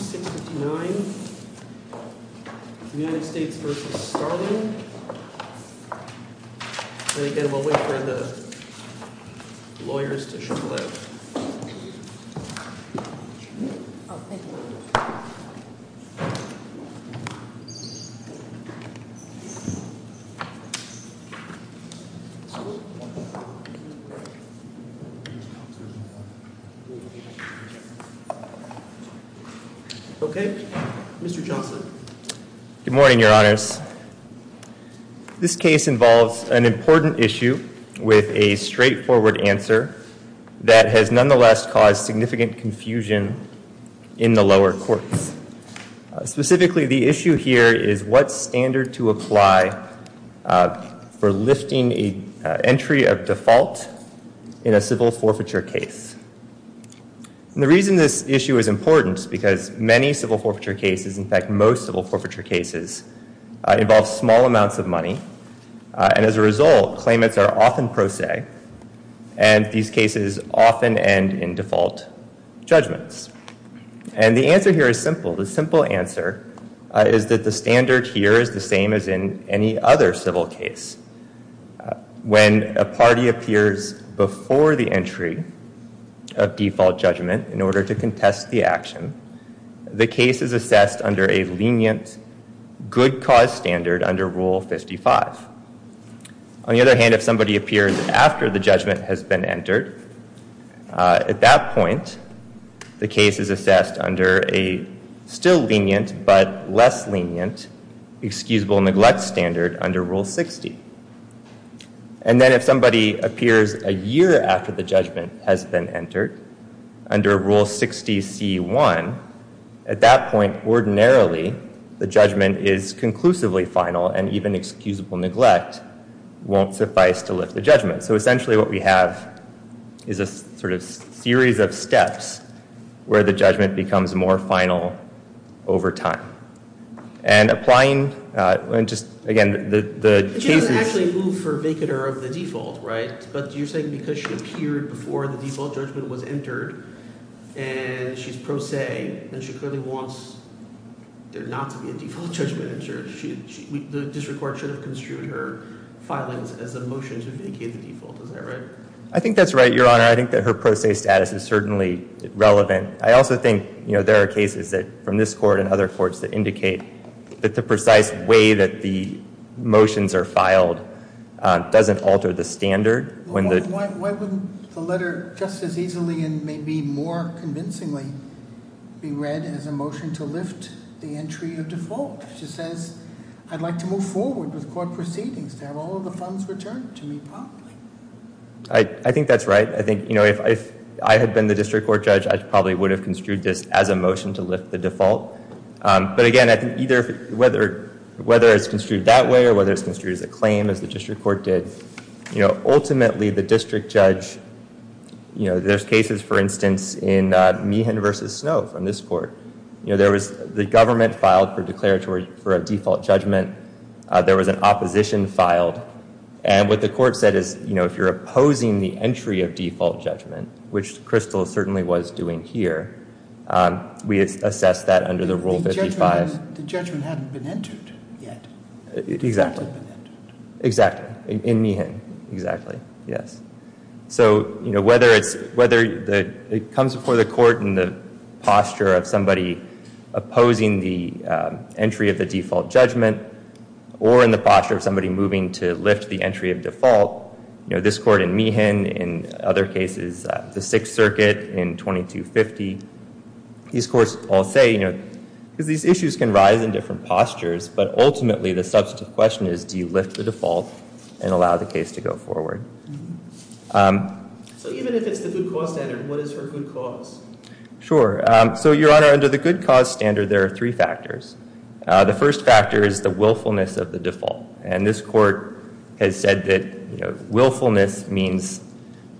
$6,059.00 United States v. Starling And again, we'll wait for the lawyers to show up. Okay, Mr Johnson. Good morning, Your Honors. This case involves an important issue with a straightforward answer that has nonetheless caused significant confusion in the lower courts. Specifically, the issue here is what standard to apply for lifting a entry of default in a civil forfeiture case. And the reason this issue is important is because many civil forfeiture cases, in fact most civil forfeiture cases, involve small amounts of money. And as a result, claimants are often pro se, and these cases often end in default judgments. And the answer here is simple. The simple answer is that the standard here is the same as in any other civil case. When a party appears before the entry of default judgment in order to contest the action, the case is assessed under a lenient good cause standard under Rule 55. On the other hand, if somebody appears after the judgment has been entered, at that point, the case is assessed under a still lenient but less lenient excusable neglect standard under Rule 60. And then if somebody appears a year after the judgment has been entered under Rule 60C1, at that point, ordinarily, the judgment is conclusively final and even excusable neglect won't suffice to lift the judgment. So essentially what we have is a sort of series of steps where the judgment becomes more final over time. And applying – and just, again, the – She doesn't actually move for vacater of the default, right? But you're saying because she appeared before the default judgment was entered and she's pro se, then she clearly wants there not to be a default judgment entered. The district court should have construed her filings as a motion to vacate the default. Is that right? I think that's right, Your Honor. I think that her pro se status is certainly relevant. I also think there are cases from this court and other courts that indicate that the precise way that the motions are filed doesn't alter the standard. Why wouldn't the letter just as easily and maybe more convincingly be read as a motion to lift the entry of default? She says, I'd like to move forward with court proceedings to have all of the funds returned to me properly. I think that's right. I think, you know, if I had been the district court judge, I probably would have construed this as a motion to lift the default. But, again, I think either – whether it's construed that way or whether it's construed as a claim as the district court did, you know, ultimately the district judge – you know, there's cases, for instance, in Meehan v. Snow from this court. You know, there was – the government filed for declaratory – for a default judgment. There was an opposition filed. And what the court said is, you know, if you're opposing the entry of default judgment, which Crystal certainly was doing here, we assess that under the Rule 55. The judgment hadn't been entered yet. Exactly. It hadn't been entered. Exactly. In Meehan. Exactly. Yes. So, you know, whether it's – whether it comes before the court in the posture of somebody opposing the entry of the default judgment or in the posture of somebody moving to lift the entry of default, you know, this court in Meehan, in other cases, the Sixth Circuit in 2250, these courts all say, you know – because these issues can rise in different postures, but ultimately the substantive question is, do you lift the default and allow the case to go forward? So even if it's the good cause standard, what is her good cause? Sure. So, Your Honor, under the good cause standard, there are three factors. The first factor is the willfulness of the default. And this court has said that, you know, willfulness means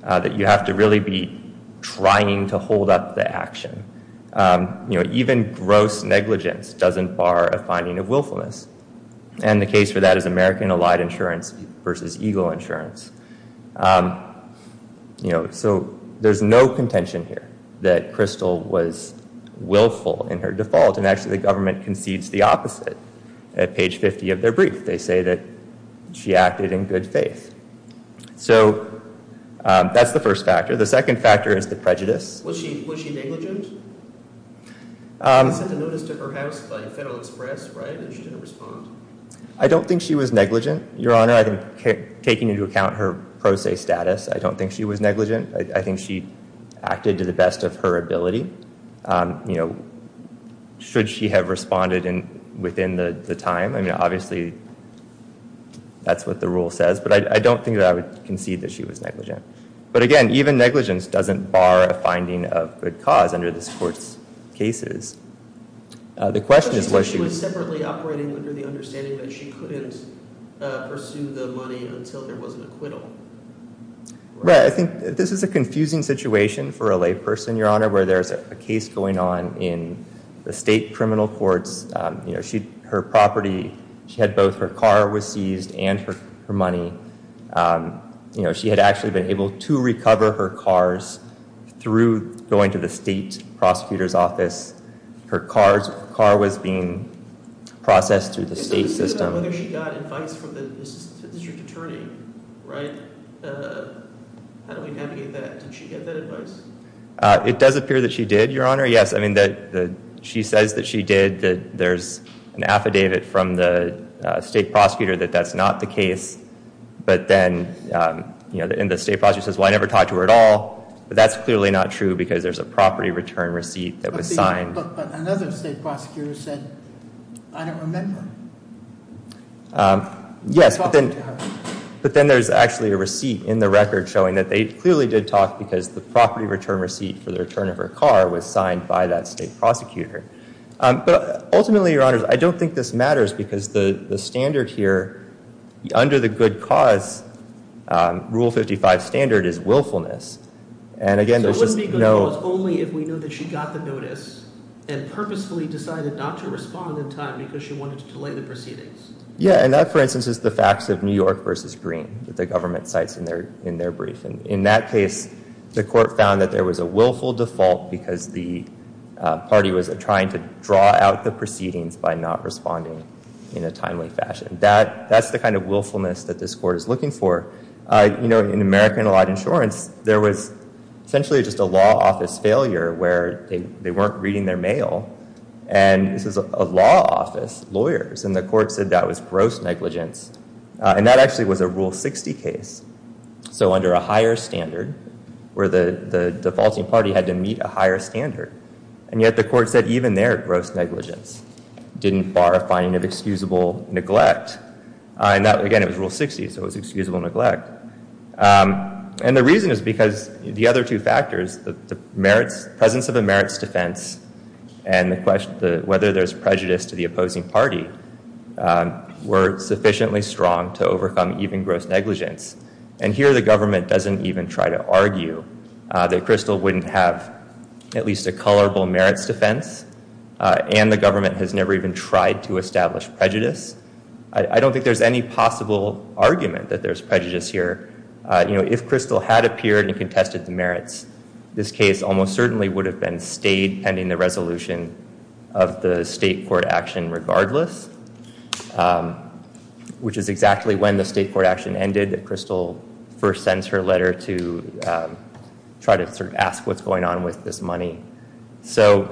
that you have to really be trying to hold up the action. You know, even gross negligence doesn't bar a finding of willfulness. And the case for that is American Allied Insurance versus Eagle Insurance. You know, so there's no contention here that Crystal was willful in her default. And actually the government concedes the opposite. At page 50 of their brief, they say that she acted in good faith. So that's the first factor. The second factor is the prejudice. Was she negligent? You sent a notice to her house by Federal Express, right, and she didn't respond? I don't think she was negligent, Your Honor. I think taking into account her pro se status, I don't think she was negligent. I think she acted to the best of her ability. You know, should she have responded within the time? I mean, obviously that's what the rule says. But I don't think that I would concede that she was negligent. But, again, even negligence doesn't bar a finding of good cause under this court's cases. The question is whether she was separately operating under the understanding that she couldn't pursue the money until there was an acquittal. Right, I think this is a confusing situation for a lay person, Your Honor, where there's a case going on in the state criminal courts. You know, her property, she had both her car was seized and her money. You know, she had actually been able to recover her cars through going to the state prosecutor's office. Her car was being processed through the state system. So this is about whether she got advice from the district attorney, right? How do we navigate that? Did she get that advice? It does appear that she did, Your Honor, yes. I mean, she says that she did, that there's an affidavit from the state prosecutor that that's not the case. But then, you know, and the state prosecutor says, well, I never talked to her at all. But that's clearly not true because there's a property return receipt that was signed. But another state prosecutor said, I don't remember. Yes, but then there's actually a receipt in the record showing that they clearly did talk because the property return receipt for the return of her car was signed by that state prosecutor. But ultimately, Your Honor, I don't think this matters because the standard here, under the good cause Rule 55 standard, is willfulness. And again, there's just no— So it wouldn't be good cause only if we knew that she got the notice and purposefully decided not to respond in time because she wanted to delay the proceedings. Yeah, and that, for instance, is the facts of New York v. Green that the government cites in their brief. And in that case, the court found that there was a willful default because the party was trying to draw out the proceedings by not responding in a timely fashion. That's the kind of willfulness that this court is looking for. You know, in American Allot Insurance, there was essentially just a law office failure where they weren't reading their mail. And this is a law office, lawyers, and the court said that was gross negligence. And that actually was a Rule 60 case. So under a higher standard, where the defaulting party had to meet a higher standard, and yet the court said even their gross negligence didn't bar a finding of excusable neglect. And again, it was Rule 60, so it was excusable neglect. And the reason is because the other two factors, the presence of a merits defense and whether there's prejudice to the opposing party, were sufficiently strong to overcome even gross negligence. And here the government doesn't even try to argue that Crystal wouldn't have at least a colorable merits defense. And the government has never even tried to establish prejudice. I don't think there's any possible argument that there's prejudice here. You know, if Crystal had appeared and contested the merits, this case almost certainly would have been stayed pending the resolution of the state court action regardless, which is exactly when the state court action ended that Crystal first sends her letter to try to sort of ask what's going on with this money. So,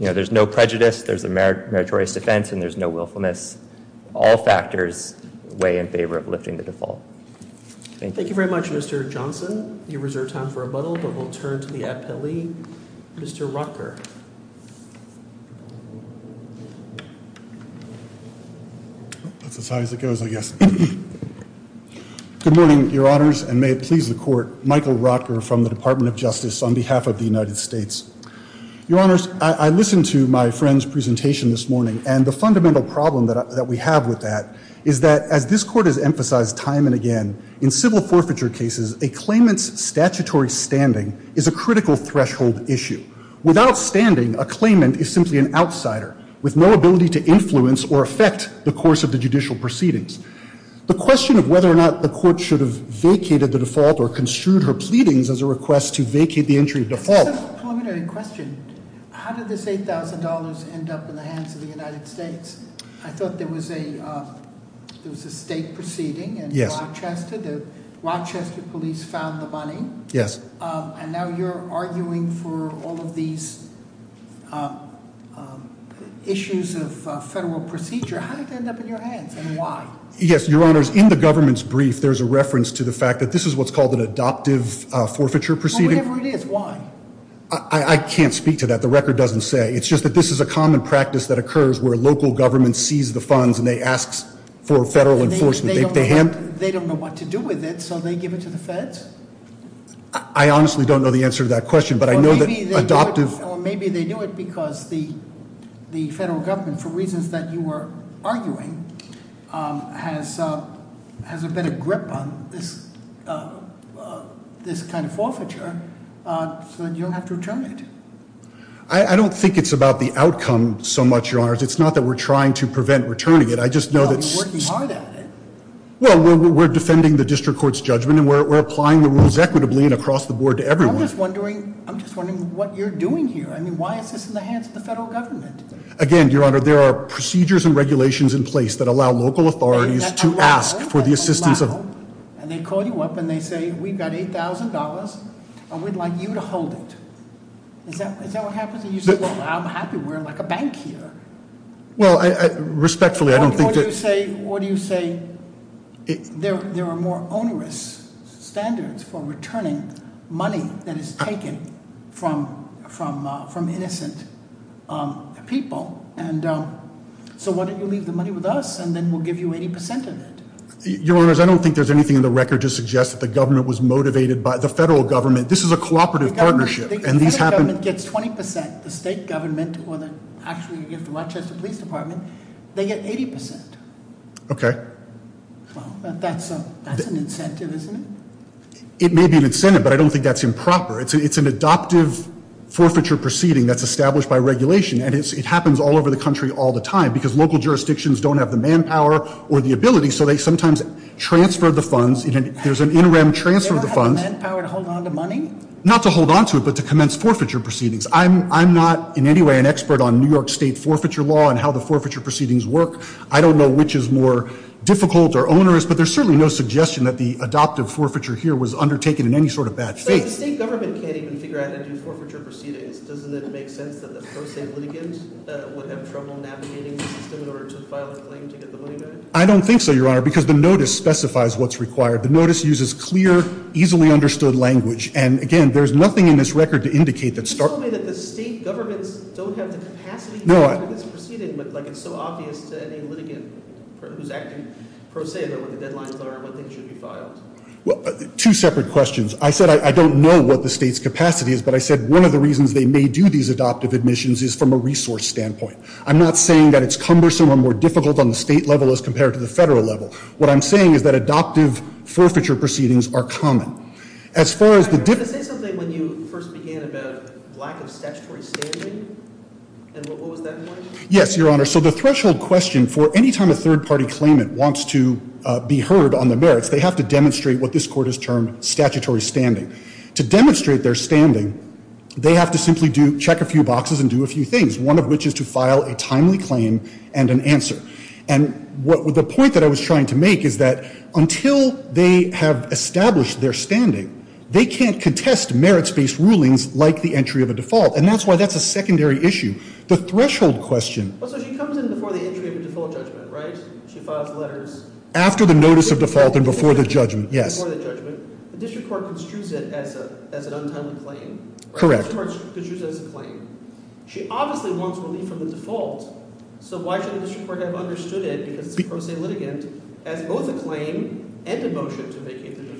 you know, there's no prejudice, there's a meritorious defense, and there's no willfulness. All factors weigh in favor of lifting the default. Thank you. Thank you very much, Mr. Johnson. You reserve time for rebuttal, but we'll turn to the appellee, Mr. Rocker. That's as high as it goes, I guess. Good morning, Your Honors, and may it please the court. Michael Rocker from the Department of Justice on behalf of the United States. Your Honors, I listened to my friend's presentation this morning, and the fundamental problem that we have with that is that as this court has emphasized time and again in civil forfeiture cases, a claimant's statutory standing is a critical threshold issue. Without standing, a claimant is simply an outsider with no ability to influence or affect the course of the judicial proceedings. The question of whether or not the court should have vacated the default or construed her pleadings as a request to vacate the entry default. It's a preliminary question. How did this $8,000 end up in the hands of the United States? I thought there was a state proceeding in Rochester. The Rochester police found the money. Yes. And now you're arguing for all of these issues of federal procedure. How did it end up in your hands, and why? Yes, Your Honors, in the government's brief, there's a reference to the fact that this is what's called an adoptive forfeiture proceeding. Whatever it is, why? I can't speak to that. The record doesn't say. It's just that this is a common practice that occurs where local governments seize the funds and they ask for federal enforcement. They don't know what to do with it, so they give it to the feds? I honestly don't know the answer to that question, but I know that adoptive- Or maybe they do it because the federal government, for reasons that you were arguing, has a better grip on this kind of forfeiture, so you don't have to return it. I don't think it's about the outcome so much, Your Honors. It's not that we're trying to prevent returning it. I just know that- No, you're working hard at it. Well, we're defending the district court's judgment, and we're applying the rules equitably and across the board to everyone. I'm just wondering what you're doing here. I mean, why is this in the hands of the federal government? Again, Your Honor, there are procedures and regulations in place that allow local authorities to ask for the assistance of- And they call you up and they say, we've got $8,000, and we'd like you to hold it. Is that what happens? And you say, well, I'm happy. We're like a bank here. Well, respectfully, I don't think that- What do you say there are more onerous standards for returning money that is taken from innocent people? And so why don't you leave the money with us, and then we'll give you 80% of it? Your Honors, I don't think there's anything in the record to suggest that the government was motivated by- The federal government- This is a cooperative partnership, and these happen- The federal government gets 20%. The state government or the- Actually, you have the Rochester Police Department. They get 80%. Okay. Well, that's an incentive, isn't it? It may be an incentive, but I don't think that's improper. It's an adoptive forfeiture proceeding that's established by regulation, and it happens all over the country all the time because local jurisdictions don't have the manpower or the ability, so they sometimes transfer the funds. There's an interim transfer of the funds- They don't have the manpower to hold on to money? Not to hold on to it, but to commence forfeiture proceedings. I'm not in any way an expert on New York State forfeiture law and how the forfeiture proceedings work. I don't know which is more difficult or onerous, but there's certainly no suggestion that the adoptive forfeiture here was undertaken in any sort of bad faith. But the state government can't even figure out how to do forfeiture proceedings. Doesn't it make sense that the pro se litigants would have trouble navigating the system in order to file a claim to get the money back? I don't think so, Your Honor, because the notice specifies what's required. The notice uses clear, easily understood language, and again, there's nothing in this record to indicate that- You just told me that the state governments don't have the capacity- No, I- For this proceeding, but it's so obvious to any litigant who's acting pro se about what the deadlines are and what they should be filed. Well, two separate questions. I said I don't know what the state's capacity is, but I said one of the reasons they may do these adoptive admissions is from a resource standpoint. I'm not saying that it's cumbersome or more difficult on the state level as compared to the federal level. What I'm saying is that adoptive forfeiture proceedings are common. As far as the- Can I say something when you first began about lack of statutory standing? And what was that point? Yes, Your Honor. So the threshold question for any time a third party claimant wants to be heard on the merits, they have to demonstrate what this court has termed statutory standing. To demonstrate their standing, they have to simply check a few boxes and do a few things, one of which is to file a timely claim and an answer. And the point that I was trying to make is that until they have established their standing, they can't contest merits-based rulings like the entry of a default, and that's why that's a secondary issue. The threshold question- Well, so she comes in before the entry of a default judgment, right? She files letters- After the notice of default and before the judgment, yes. Before the judgment. The district court construes it as an untimely claim. Correct. The district court construes it as a claim. She obviously wants relief from the default, so why shouldn't the district court have understood it, because it's a pro se litigant, as both a claim and a motion to vacate the default?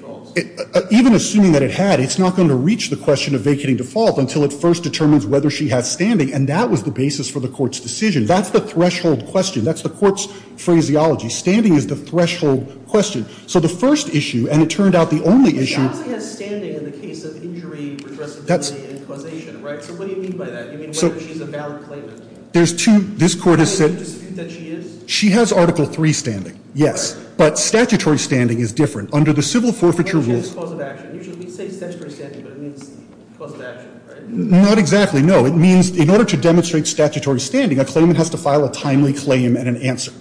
Even assuming that it had, it's not going to reach the question of vacating default until it first determines whether she has standing, and that was the basis for the court's decision. That's the threshold question. That's the court's phraseology. Standing is the threshold question. So the first issue, and it turned out the only issue- She obviously has standing in the case of injury, redressability, and causation, right? So what do you mean by that? You mean whether she's a valid claimant? There's two- This court has said- Do you dispute that she is? She has Article III standing, yes. But statutory standing is different. Under the civil forfeiture rules- We say statutory standing, but it means cause of action, right? Not exactly, no. It means in order to demonstrate statutory standing, a claimant has to file a timely claim and an answer.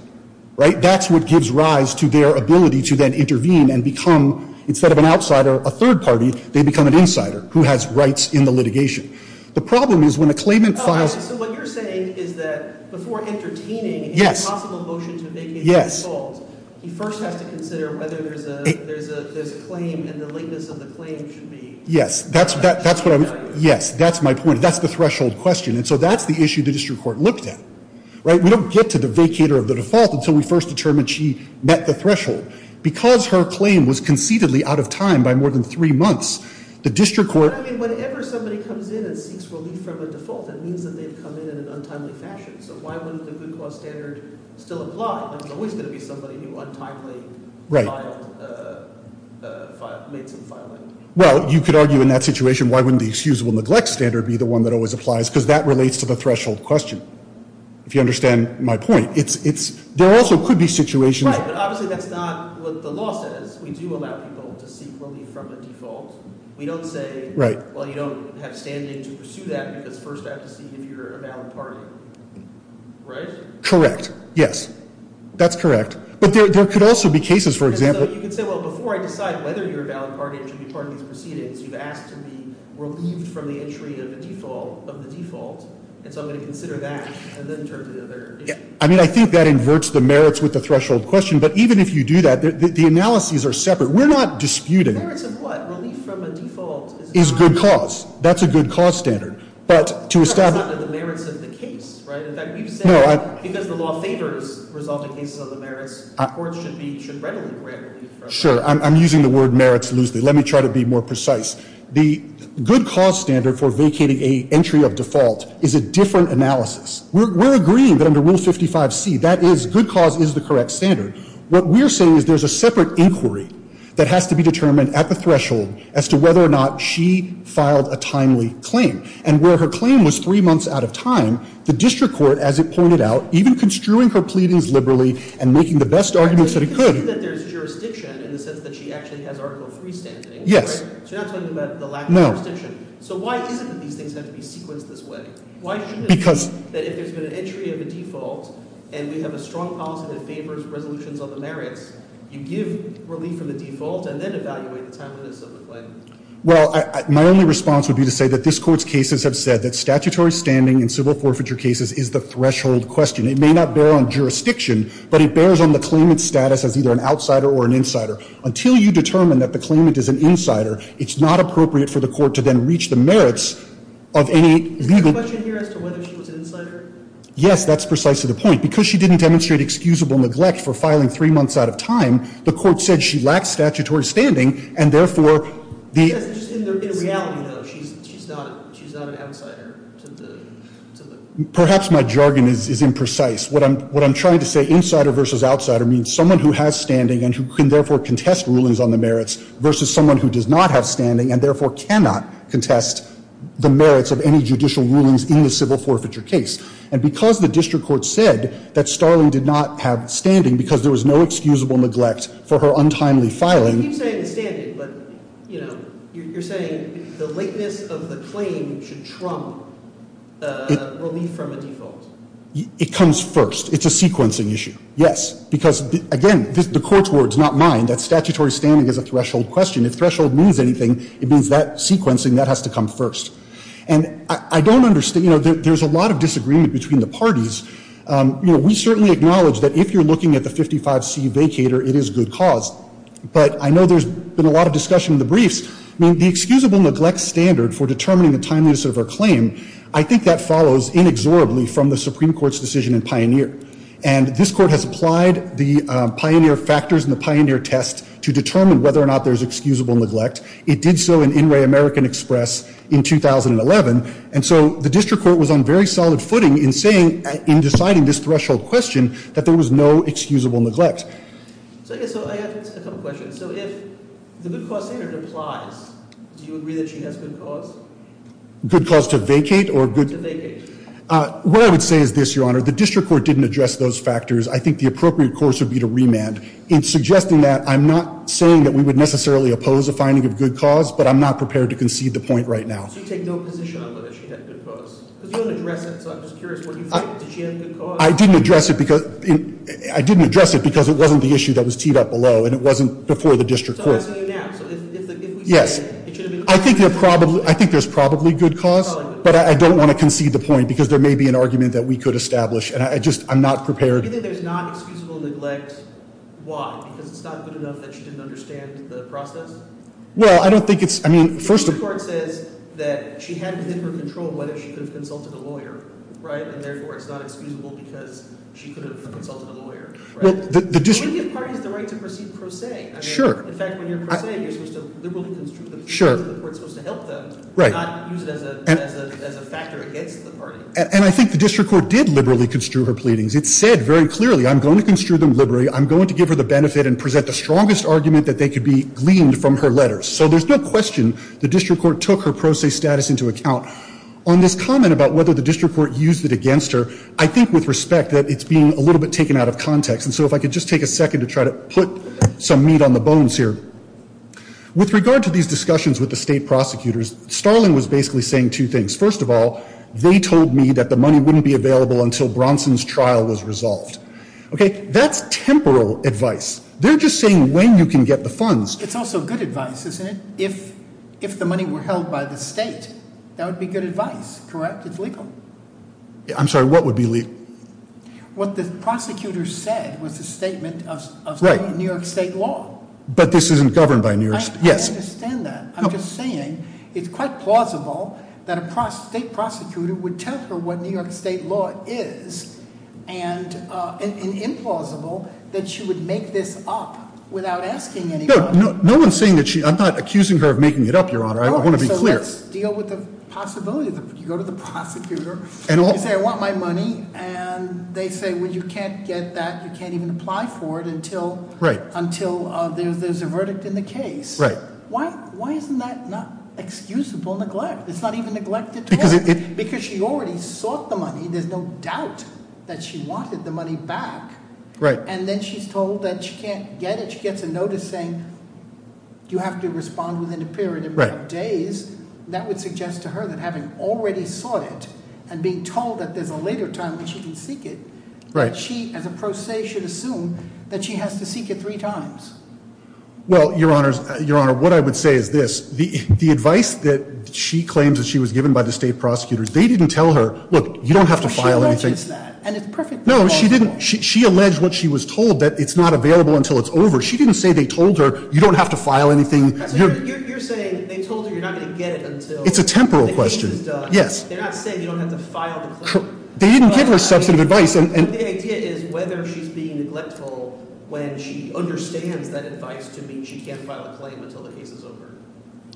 Right? That's what gives rise to their ability to then intervene and become, instead of an outsider, a third party, they become an insider who has rights in the litigation. The problem is when a claimant files- Oh, I see. So what you're saying is that before entertaining- Yes. A possible motion to vacate default- Yes. He first has to consider whether there's a claim and the lateness of the claim should be- Yes. That's what I'm- Yes, that's my point. That's the threshold question. And so that's the issue the district court looked at. Right? We don't get to the vacator of the default until we first determine she met the threshold. Because her claim was conceitedly out of time by more than three months, the district court- But I mean, whenever somebody comes in and seeks relief from a default, that means that they've come in in an untimely fashion. So why wouldn't the good cause standard still apply? There's always going to be somebody who untimely made some filing. Well, you could argue in that situation why wouldn't the excusable neglect standard be the one that always applies? Because that relates to the threshold question, if you understand my point. There also could be situations- Right, but obviously that's not what the law says. We do allow people to seek relief from a default. We don't say, well, you don't have standing to pursue that because first I have to see if you're a valid party. Right? Correct. Yes. That's correct. But there could also be cases, for example- And so you could say, well, before I decide whether you're a valid party to be part of these proceedings, you've asked to be relieved from the entry of the default. And so I'm going to consider that and then turn to the other- I mean, I think that inverts the merits with the threshold question. But even if you do that, the analyses are separate. We're not disputing- The merits of what? Relief from a default is- Is good cause. That's a good cause standard. But to establish- That's not the merits of the case, right? No, I- Because the law favors resulting cases on the merits, courts should readily grant relief from- Sure. I'm using the word merits loosely. Let me try to be more precise. The good cause standard for vacating an entry of default is a different analysis. We're agreeing that under Rule 55C, that is, good cause is the correct standard. What we're saying is there's a separate inquiry that has to be determined at the threshold as to whether or not she filed a timely claim. And where her claim was three months out of time, the district court, as it pointed out, even construing her pleadings liberally and making the best arguments that it could- But you're saying that there's jurisdiction in the sense that she actually has Article III standing, right? Yes. So you're not talking about the lack of jurisdiction. No. So why is it that these things have to be sequenced this way? Because- Why shouldn't it be that if there's been an entry of a default and we have a strong policy that favors resolutions on the merits, you give relief from the default and then evaluate the timeliness of the claim? Well, my only response would be to say that this Court's cases have said that statutory standing in civil forfeiture cases is the threshold question. It may not bear on jurisdiction, but it bears on the claimant's status as either an outsider or an insider. Until you determine that the claimant is an insider, it's not appropriate for the Court to then reach the merits of any legal- Is the question here as to whether she was an insider? Yes, that's precisely the point. Because she didn't demonstrate excusable neglect for filing three months out of time, the Court said she lacked statutory standing and, therefore, the- Yes, just in reality, though, she's not an outsider to the- Perhaps my jargon is imprecise. What I'm trying to say, insider versus outsider, means someone who has standing and who can, therefore, contest rulings on the merits versus someone who does not have standing and, therefore, cannot contest the merits of any judicial rulings in the civil forfeiture case. And because the district court said that Starling did not have standing because there was no excusable neglect for her untimely filing- You keep saying the standing, but, you know, you're saying the lateness of the claim should trump relief from a default. It comes first. It's a sequencing issue. Yes. Because, again, the Court's words, not mine, that statutory standing is a threshold question. If threshold means anything, it means that sequencing, that has to come first. And I don't understand, you know, there's a lot of disagreement between the parties. You know, we certainly acknowledge that if you're looking at the 55C vacator, it is good cause. But I know there's been a lot of discussion in the briefs. I mean, the excusable neglect standard for determining the timeliness of her claim, I think that follows inexorably from the Supreme Court's decision in Pioneer. And this Court has applied the Pioneer factors and the Pioneer test to determine whether or not there's excusable neglect. It did so in In Re American Express in 2011. And so the district court was on very solid footing in saying, in deciding this threshold question, that there was no excusable neglect. So I guess I have a couple questions. So if the good cause standard applies, do you agree that she has good cause? Good cause to vacate or good- To vacate. What I would say is this, Your Honor. The district court didn't address those factors. I think the appropriate course would be to remand. In suggesting that, I'm not saying that we would necessarily oppose a finding of good cause, but I'm not prepared to concede the point right now. So you take no position on whether she had good cause? Because you don't address it, so I'm just curious what you think. Did she have good cause? I didn't address it because it wasn't the issue that was teed up below, and it wasn't before the district court. So I'm asking you now. Yes. I think there's probably good cause, but I don't want to concede the point because there may be an argument that we could establish. And I just, I'm not prepared. Do you think there's not excusable neglect? Why? Because it's not good enough that she didn't understand the process? Well, I don't think it's, I mean, first of- The district court says that she had within her control whether she could have consulted a lawyer, right? And therefore, it's not excusable because she could have consulted a lawyer, right? Well, the district- It wouldn't give parties the right to proceed pro se. Sure. In fact, when you're pro se, you're supposed to liberally construe the proceedings that the court's supposed to help them. Right. Not use it as a factor against the party. And I think the district court did liberally construe her pleadings. It said very clearly, I'm going to construe them liberally. I'm going to give her the benefit and present the strongest argument that they could be gleaned from her letters. So there's no question the district court took her pro se status into account. On this comment about whether the district court used it against her, I think with respect that it's being a little bit taken out of context. And so if I could just take a second to try to put some meat on the bones here. With regard to these discussions with the state prosecutors, Starling was basically saying two things. First of all, they told me that the money wouldn't be available until Bronson's trial was resolved. Okay. That's temporal advice. They're just saying when you can get the funds. It's also good advice, isn't it? If the money were held by the state, that would be good advice, correct? It's legal. I'm sorry. What would be legal? What the prosecutor said was the statement of New York state law. But this isn't governed by New York state law. I understand that. I'm just saying it's quite plausible that a state prosecutor would tell her what New York state law is. And implausible that she would make this up without asking anybody. No one's saying that she, I'm not accusing her of making it up, Your Honor. I want to be clear. So let's deal with the possibility. You go to the prosecutor. You say I want my money. And they say, well, you can't get that. You can't even apply for it until there's a verdict in the case. Why isn't that not excusable neglect? It's not even neglected to her. Because she already sought the money. There's no doubt that she wanted the money back. And then she's told that she can't get it. She gets a notice saying you have to respond within a period of days. That would suggest to her that having already sought it and being told that there's a later time when she can seek it, that she as a pro se should assume that she has to seek it three times. Well, Your Honor, what I would say is this. The advice that she claims that she was given by the state prosecutors, they didn't tell her, look, you don't have to file anything. She alleges that. And it's perfectly plausible. No, she didn't. She alleged what she was told, that it's not available until it's over. She didn't say they told her you don't have to file anything. You're saying they told her you're not going to get it until the case is done. It's a temporal question. Yes. They're not saying you don't have to file the claim. They didn't give her substantive advice. The idea is whether she's being neglectful when she understands that advice to mean she can't file a claim until the case is over.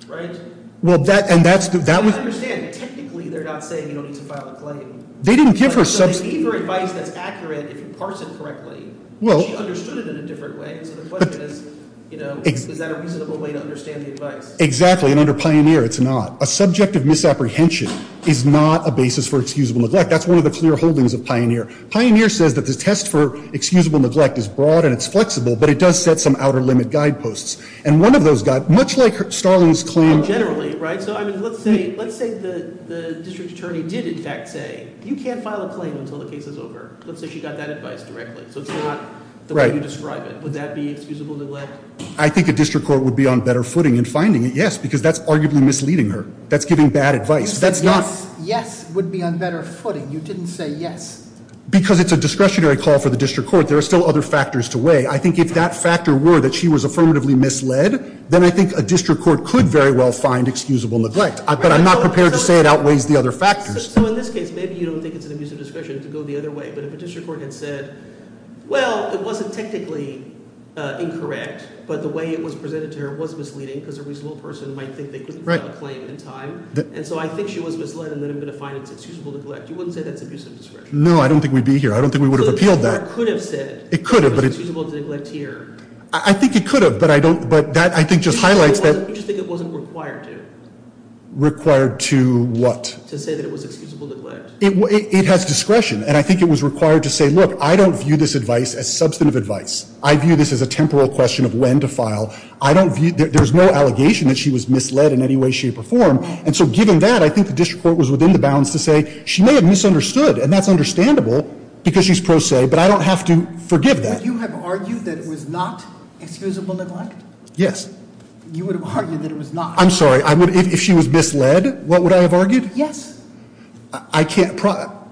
Right? Well, that and that's the – I understand. Technically, they're not saying you don't need to file a claim. They didn't give her – So they gave her advice that's accurate if you parse it correctly. She understood it in a different way. So the question is, you know, is that a reasonable way to understand the advice? Exactly. And under Pioneer, it's not. A subject of misapprehension is not a basis for excusable neglect. That's one of the clear holdings of Pioneer. Pioneer says that the test for excusable neglect is broad and it's flexible, but it does set some outer limit guideposts. And one of those – much like Starling's claim – Well, generally, right? So, I mean, let's say the district attorney did in fact say you can't file a claim until the case is over. Let's say she got that advice directly. So it's not the way you describe it. Would that be excusable neglect? I think a district court would be on better footing in finding it, yes, because that's arguably misleading her. That's giving bad advice. That's not – A yes would be on better footing. You didn't say yes. Because it's a discretionary call for the district court. There are still other factors to weigh. I think if that factor were that she was affirmatively misled, then I think a district court could very well find excusable neglect. But I'm not prepared to say it outweighs the other factors. So in this case, maybe you don't think it's an abuse of discretion to go the other way. But if a district court had said, well, it wasn't technically incorrect, but the way it was presented to her was misleading because a reasonable person might think they couldn't file a claim in time. And so I think she was misled, and then I'm going to find it's excusable neglect. You wouldn't say that's abuse of discretion? No, I don't think we'd be here. I don't think we would have appealed that. So the district court could have said it was excusable to neglect here. I think it could have, but I don't – but that, I think, just highlights that – You just think it wasn't required to. Required to what? To say that it was excusable neglect. It has discretion, and I think it was required to say, look, I don't view this advice as substantive advice. I view this as a temporal question of when to file. I don't view – there's no allegation that she was misled in any way, shape, or form. And so given that, I think the district court was within the bounds to say she may have misunderstood. And that's understandable because she's pro se, but I don't have to forgive that. Would you have argued that it was not excusable neglect? Yes. You would have argued that it was not. I'm sorry. If she was misled, what would I have argued? Yes. I can't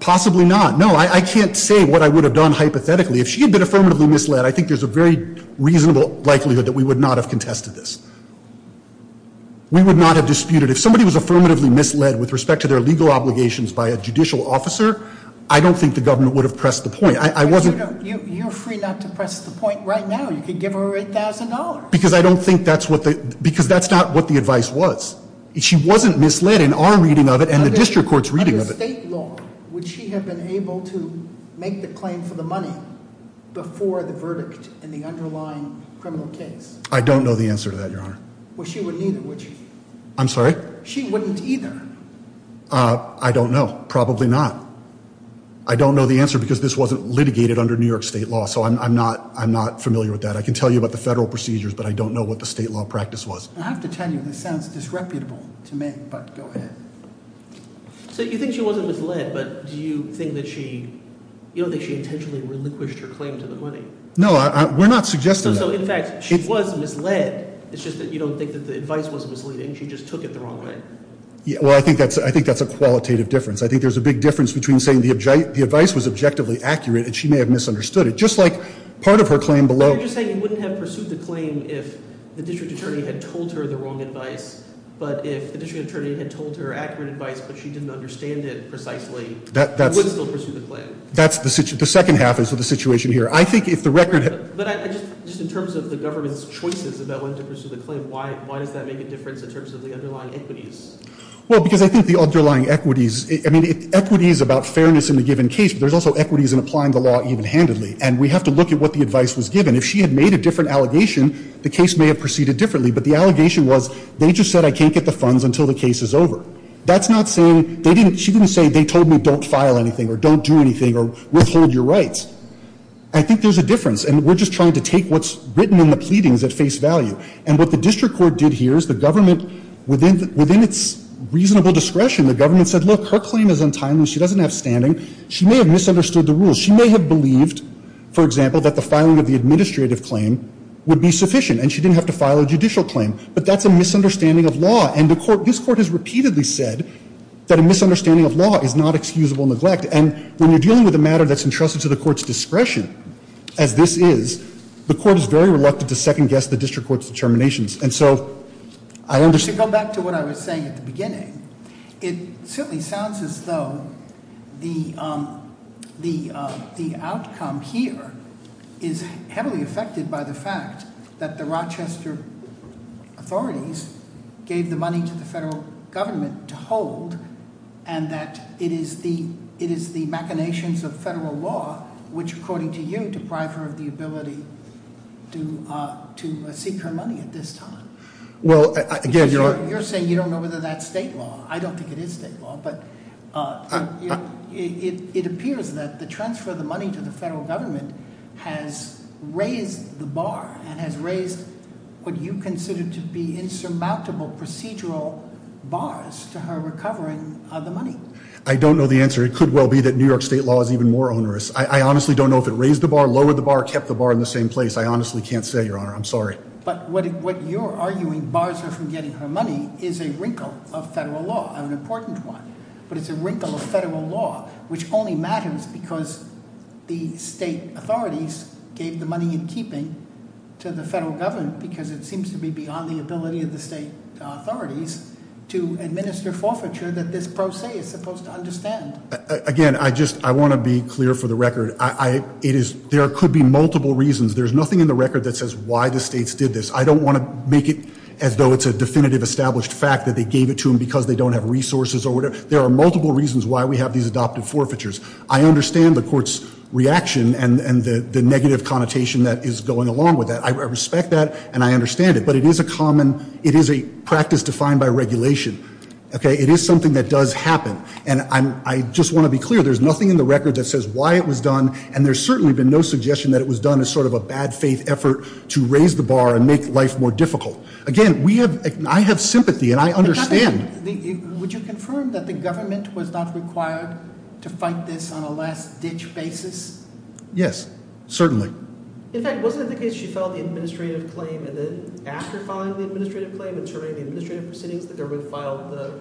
– possibly not. No, I can't say what I would have done hypothetically. If she had been affirmatively misled, I think there's a very reasonable likelihood that we would not have contested this. We would not have disputed – if somebody was affirmatively misled with respect to their legal obligations by a judicial officer, I don't think the government would have pressed the point. I wasn't – You're free not to press the point right now. You could give her $8,000. Because I don't think that's what the – because that's not what the advice was. She wasn't misled in our reading of it and the district court's reading of it. Under state law, would she have been able to make the claim for the money before the verdict in the underlying criminal case? I don't know the answer to that, Your Honor. Well, she wouldn't either, would she? I'm sorry? She wouldn't either. I don't know. Probably not. I don't know the answer because this wasn't litigated under New York state law, so I'm not familiar with that. I can tell you about the federal procedures, but I don't know what the state law practice was. I have to tell you, this sounds disreputable to me, but go ahead. So you think she wasn't misled, but do you think that she – you don't think she intentionally relinquished her claim to the money? No, we're not suggesting that. So, in fact, she was misled. It's just that you don't think that the advice was misleading. She just took it the wrong way. Well, I think that's a qualitative difference. I think there's a big difference between saying the advice was objectively accurate and she may have misunderstood it, just like part of her claim below. So you're just saying you wouldn't have pursued the claim if the district attorney had told her the wrong advice, but if the district attorney had told her accurate advice but she didn't understand it precisely, you would still pursue the claim? That's the – the second half is the situation here. I think if the record – But I just – just in terms of the government's choices about when to pursue the claim, why does that make a difference in terms of the underlying equities? Well, because I think the underlying equities – I mean, equities about fairness in the given case, but there's also equities in applying the law even-handedly, and we have to look at what the advice was given. If she had made a different allegation, the case may have proceeded differently, but the allegation was they just said I can't get the funds until the case is over. That's not saying they didn't – she didn't say they told me don't file anything or don't do anything or withhold your rights. I think there's a difference, and we're just trying to take what's written in the pleadings at face value. And what the district court did here is the government, within its reasonable discretion, the government said, look, her claim is untimely, she doesn't have standing, she may have misunderstood the rules. She may have believed, for example, that the filing of the administrative claim would be sufficient, and she didn't have to file a judicial claim, but that's a misunderstanding of law. And the court – this court has repeatedly said that a misunderstanding of law is not excusable neglect. And when you're dealing with a matter that's entrusted to the court's discretion, as this is, the court is very reluctant to second-guess the district court's determinations. And so I understand – To go back to what I was saying at the beginning, it certainly sounds as though the outcome here is heavily affected by the fact that the Rochester authorities gave the money to the federal government to hold, and that it is the machinations of federal law which, according to you, deprive her of the ability to seek her money at this time. Well, again, you're – You're saying you don't know whether that's state law. I don't think it is state law, but it appears that the transfer of the money to the federal government has raised the bar and has raised what you consider to be insurmountable procedural bars to her recovering of the money. I don't know the answer. It could well be that New York state law is even more onerous. I honestly don't know if it raised the bar, lowered the bar, kept the bar in the same place. I honestly can't say, Your Honor. I'm sorry. But what you're arguing, bars her from getting her money, is a wrinkle of federal law, an important one. But it's a wrinkle of federal law which only matters because the state authorities gave the money in keeping to the federal government because it seems to be beyond the ability of the state authorities to administer forfeiture that this pro se is supposed to understand. Again, I just – I want to be clear for the record. It is – there could be multiple reasons. There's nothing in the record that says why the states did this. I don't want to make it as though it's a definitive established fact that they gave it to them because they don't have resources or whatever. There are multiple reasons why we have these adoptive forfeitures. I understand the court's reaction and the negative connotation that is going along with that. I respect that and I understand it. But it is a common – it is a practice defined by regulation. Okay? It is something that does happen. And I just want to be clear. There's nothing in the record that says why it was done. And there's certainly been no suggestion that it was done as sort of a bad faith effort to raise the bar and make life more difficult. Again, we have – I have sympathy and I understand. Would you confirm that the government was not required to fight this on a last-ditch basis? Yes. Certainly. In fact, wasn't it the case she filed the administrative claim and then after filing the administrative claim and terminating the administrative proceedings, the government filed the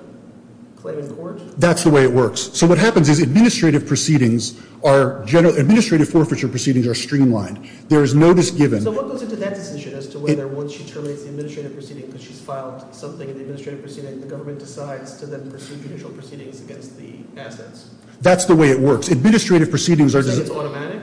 claim in court? That's the way it works. So what happens is administrative proceedings are – administrative forfeiture proceedings are streamlined. There is no dis-given. So what goes into that decision as to whether once she terminates the administrative proceeding because she's filed something in the administrative proceeding, the government decides to then pursue judicial proceedings against the assets? That's the way it works. Administrative proceedings are – So it's automatic?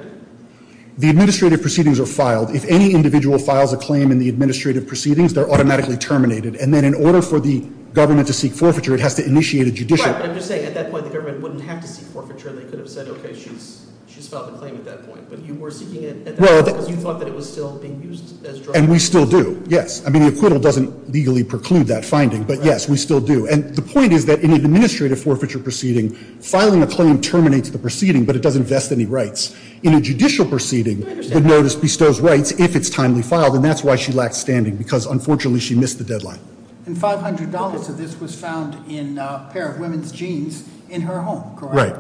The administrative proceedings are filed. If any individual files a claim in the administrative proceedings, they're automatically terminated. And then in order for the government to seek forfeiture, it has to initiate a judicial – Right, but I'm just saying at that point the government wouldn't have to seek forfeiture. They could have said, okay, she's filed the claim at that point. But you were seeking it at that point because you thought that it was still being used as drug? And we still do, yes. I mean the acquittal doesn't legally preclude that finding, but yes, we still do. And the point is that in an administrative forfeiture proceeding, filing a claim terminates the proceeding, but it doesn't vest any rights. In a judicial proceeding, the notice bestows rights if it's timely filed, and that's why she lacked standing because unfortunately she missed the deadline. And $500 of this was found in a pair of women's jeans in her home, correct? Right.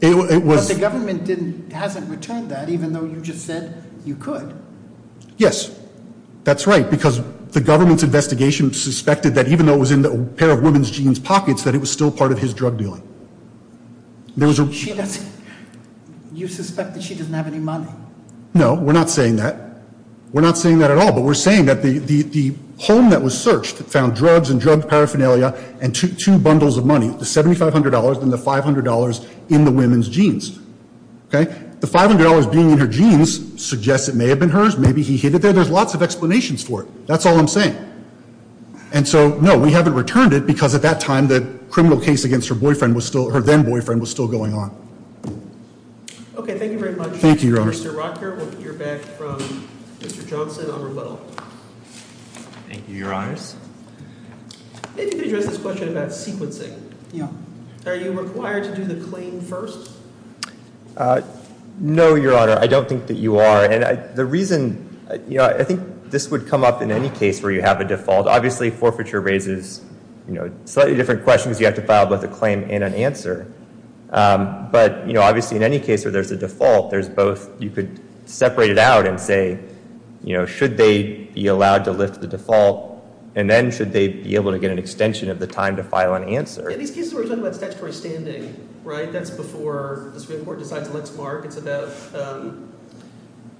But the government hasn't returned that even though you just said you could. Yes, that's right, because the government's investigation suspected that even though it was in the pair of women's jeans pockets, that it was still part of his drug dealing. She doesn't – you suspect that she doesn't have any money? No, we're not saying that. We're not saying that at all, but we're saying that the home that was searched found drugs and drug paraphernalia and two bundles of money, the $7,500 and the $500 in the women's jeans. Okay? The $500 being in her jeans suggests it may have been hers. Maybe he hid it there. There's lots of explanations for it. That's all I'm saying. And so, no, we haven't returned it because at that time the criminal case against her boyfriend was still – her then-boyfriend was still going on. Thank you very much, Mr. Rocker. Thank you, Your Honor. We'll hear back from Mr. Johnson on rebuttal. Thank you, Your Honors. If you could address this question about sequencing. Yeah. Are you required to do the claim first? No, Your Honor. I don't think that you are. And the reason – I think this would come up in any case where you have a default. Obviously, forfeiture raises slightly different questions. You have to file both a claim and an answer. But, obviously, in any case where there's a default, there's both – you could separate it out and say, you know, should they be allowed to lift the default? And then should they be able to get an extension of the time to file an answer? In these cases, we're talking about statutory standing, right? That's before the Supreme Court decides let's mark. It's about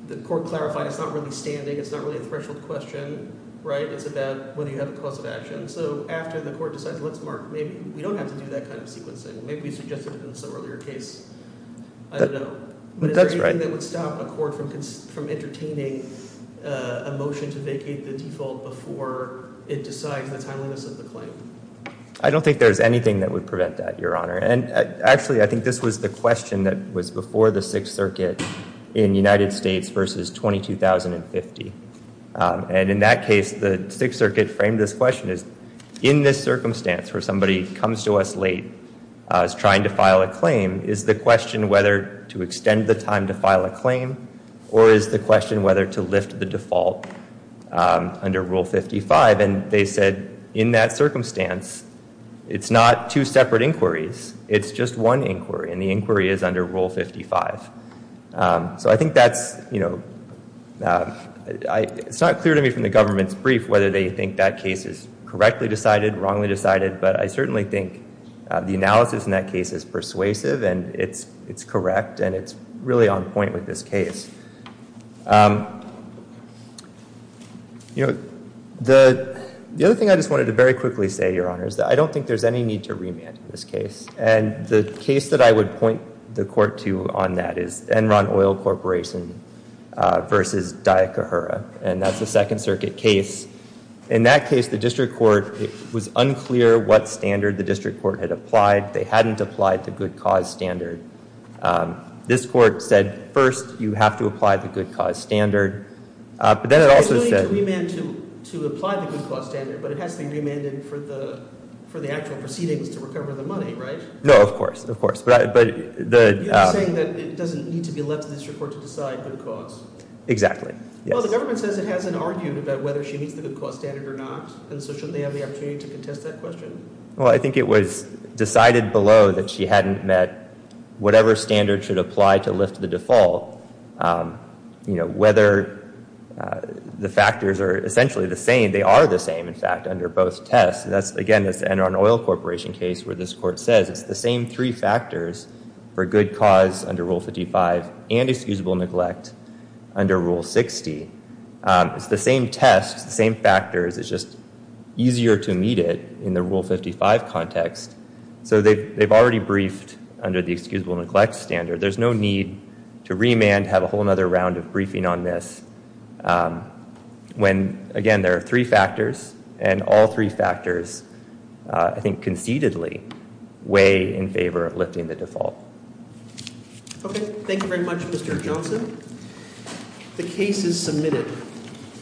the court clarifying. It's not really standing. It's not really a threshold question, right? It's about whether you have a cause of action. So after the court decides let's mark, maybe we don't have to do that kind of sequencing. Maybe we suggested it in some earlier case. I don't know. That's right. Is there anything that would stop a court from entertaining a motion to vacate the default before it decides the timeliness of the claim? I don't think there's anything that would prevent that, Your Honor. And, actually, I think this was the question that was before the Sixth Circuit in the United States versus 22,050. And in that case, the Sixth Circuit framed this question as in this circumstance where somebody comes to us late, is trying to file a claim, is the question whether to extend the time to file a claim or is the question whether to lift the default under Rule 55? And they said in that circumstance, it's not two separate inquiries. It's just one inquiry, and the inquiry is under Rule 55. So I think that's, you know, it's not clear to me from the government's brief whether they think that case is correctly decided, wrongly decided, but I certainly think the analysis in that case is persuasive, and it's correct, and it's really on point with this case. You know, the other thing I just wanted to very quickly say, Your Honor, is that I don't think there's any need to remand in this case. And the case that I would point the court to on that is Enron Oil Corporation versus Daya Kahura, and that's a Second Circuit case. In that case, the district court was unclear what standard the district court had applied. They hadn't applied the good cause standard. This court said first you have to apply the good cause standard. But then it also said— So there's no need to remand to apply the good cause standard, but it has to be remanded for the actual proceedings to recover the money, right? No, of course, of course. You're saying that it doesn't need to be left to the district court to decide good cause. Exactly, yes. Well, the government says it hasn't argued about whether she needs the good cause standard or not, and so shouldn't they have the opportunity to contest that question? Well, I think it was decided below that she hadn't met whatever standard should apply to lift the default. You know, whether the factors are essentially the same, they are the same, in fact, under both tests. That's, again, this Enron Oil Corporation case where this court says it's the same three factors for good cause under Rule 55 and excusable neglect under Rule 60. It's the same tests, the same factors. It's just easier to meet it in the Rule 55 context. So they've already briefed under the excusable neglect standard. There's no need to remand, have a whole other round of briefing on this, when, again, there are three factors, and all three factors, I think concededly, weigh in favor of lifting the default. Okay. Thank you very much, Mr. Johnson. The case is submitted.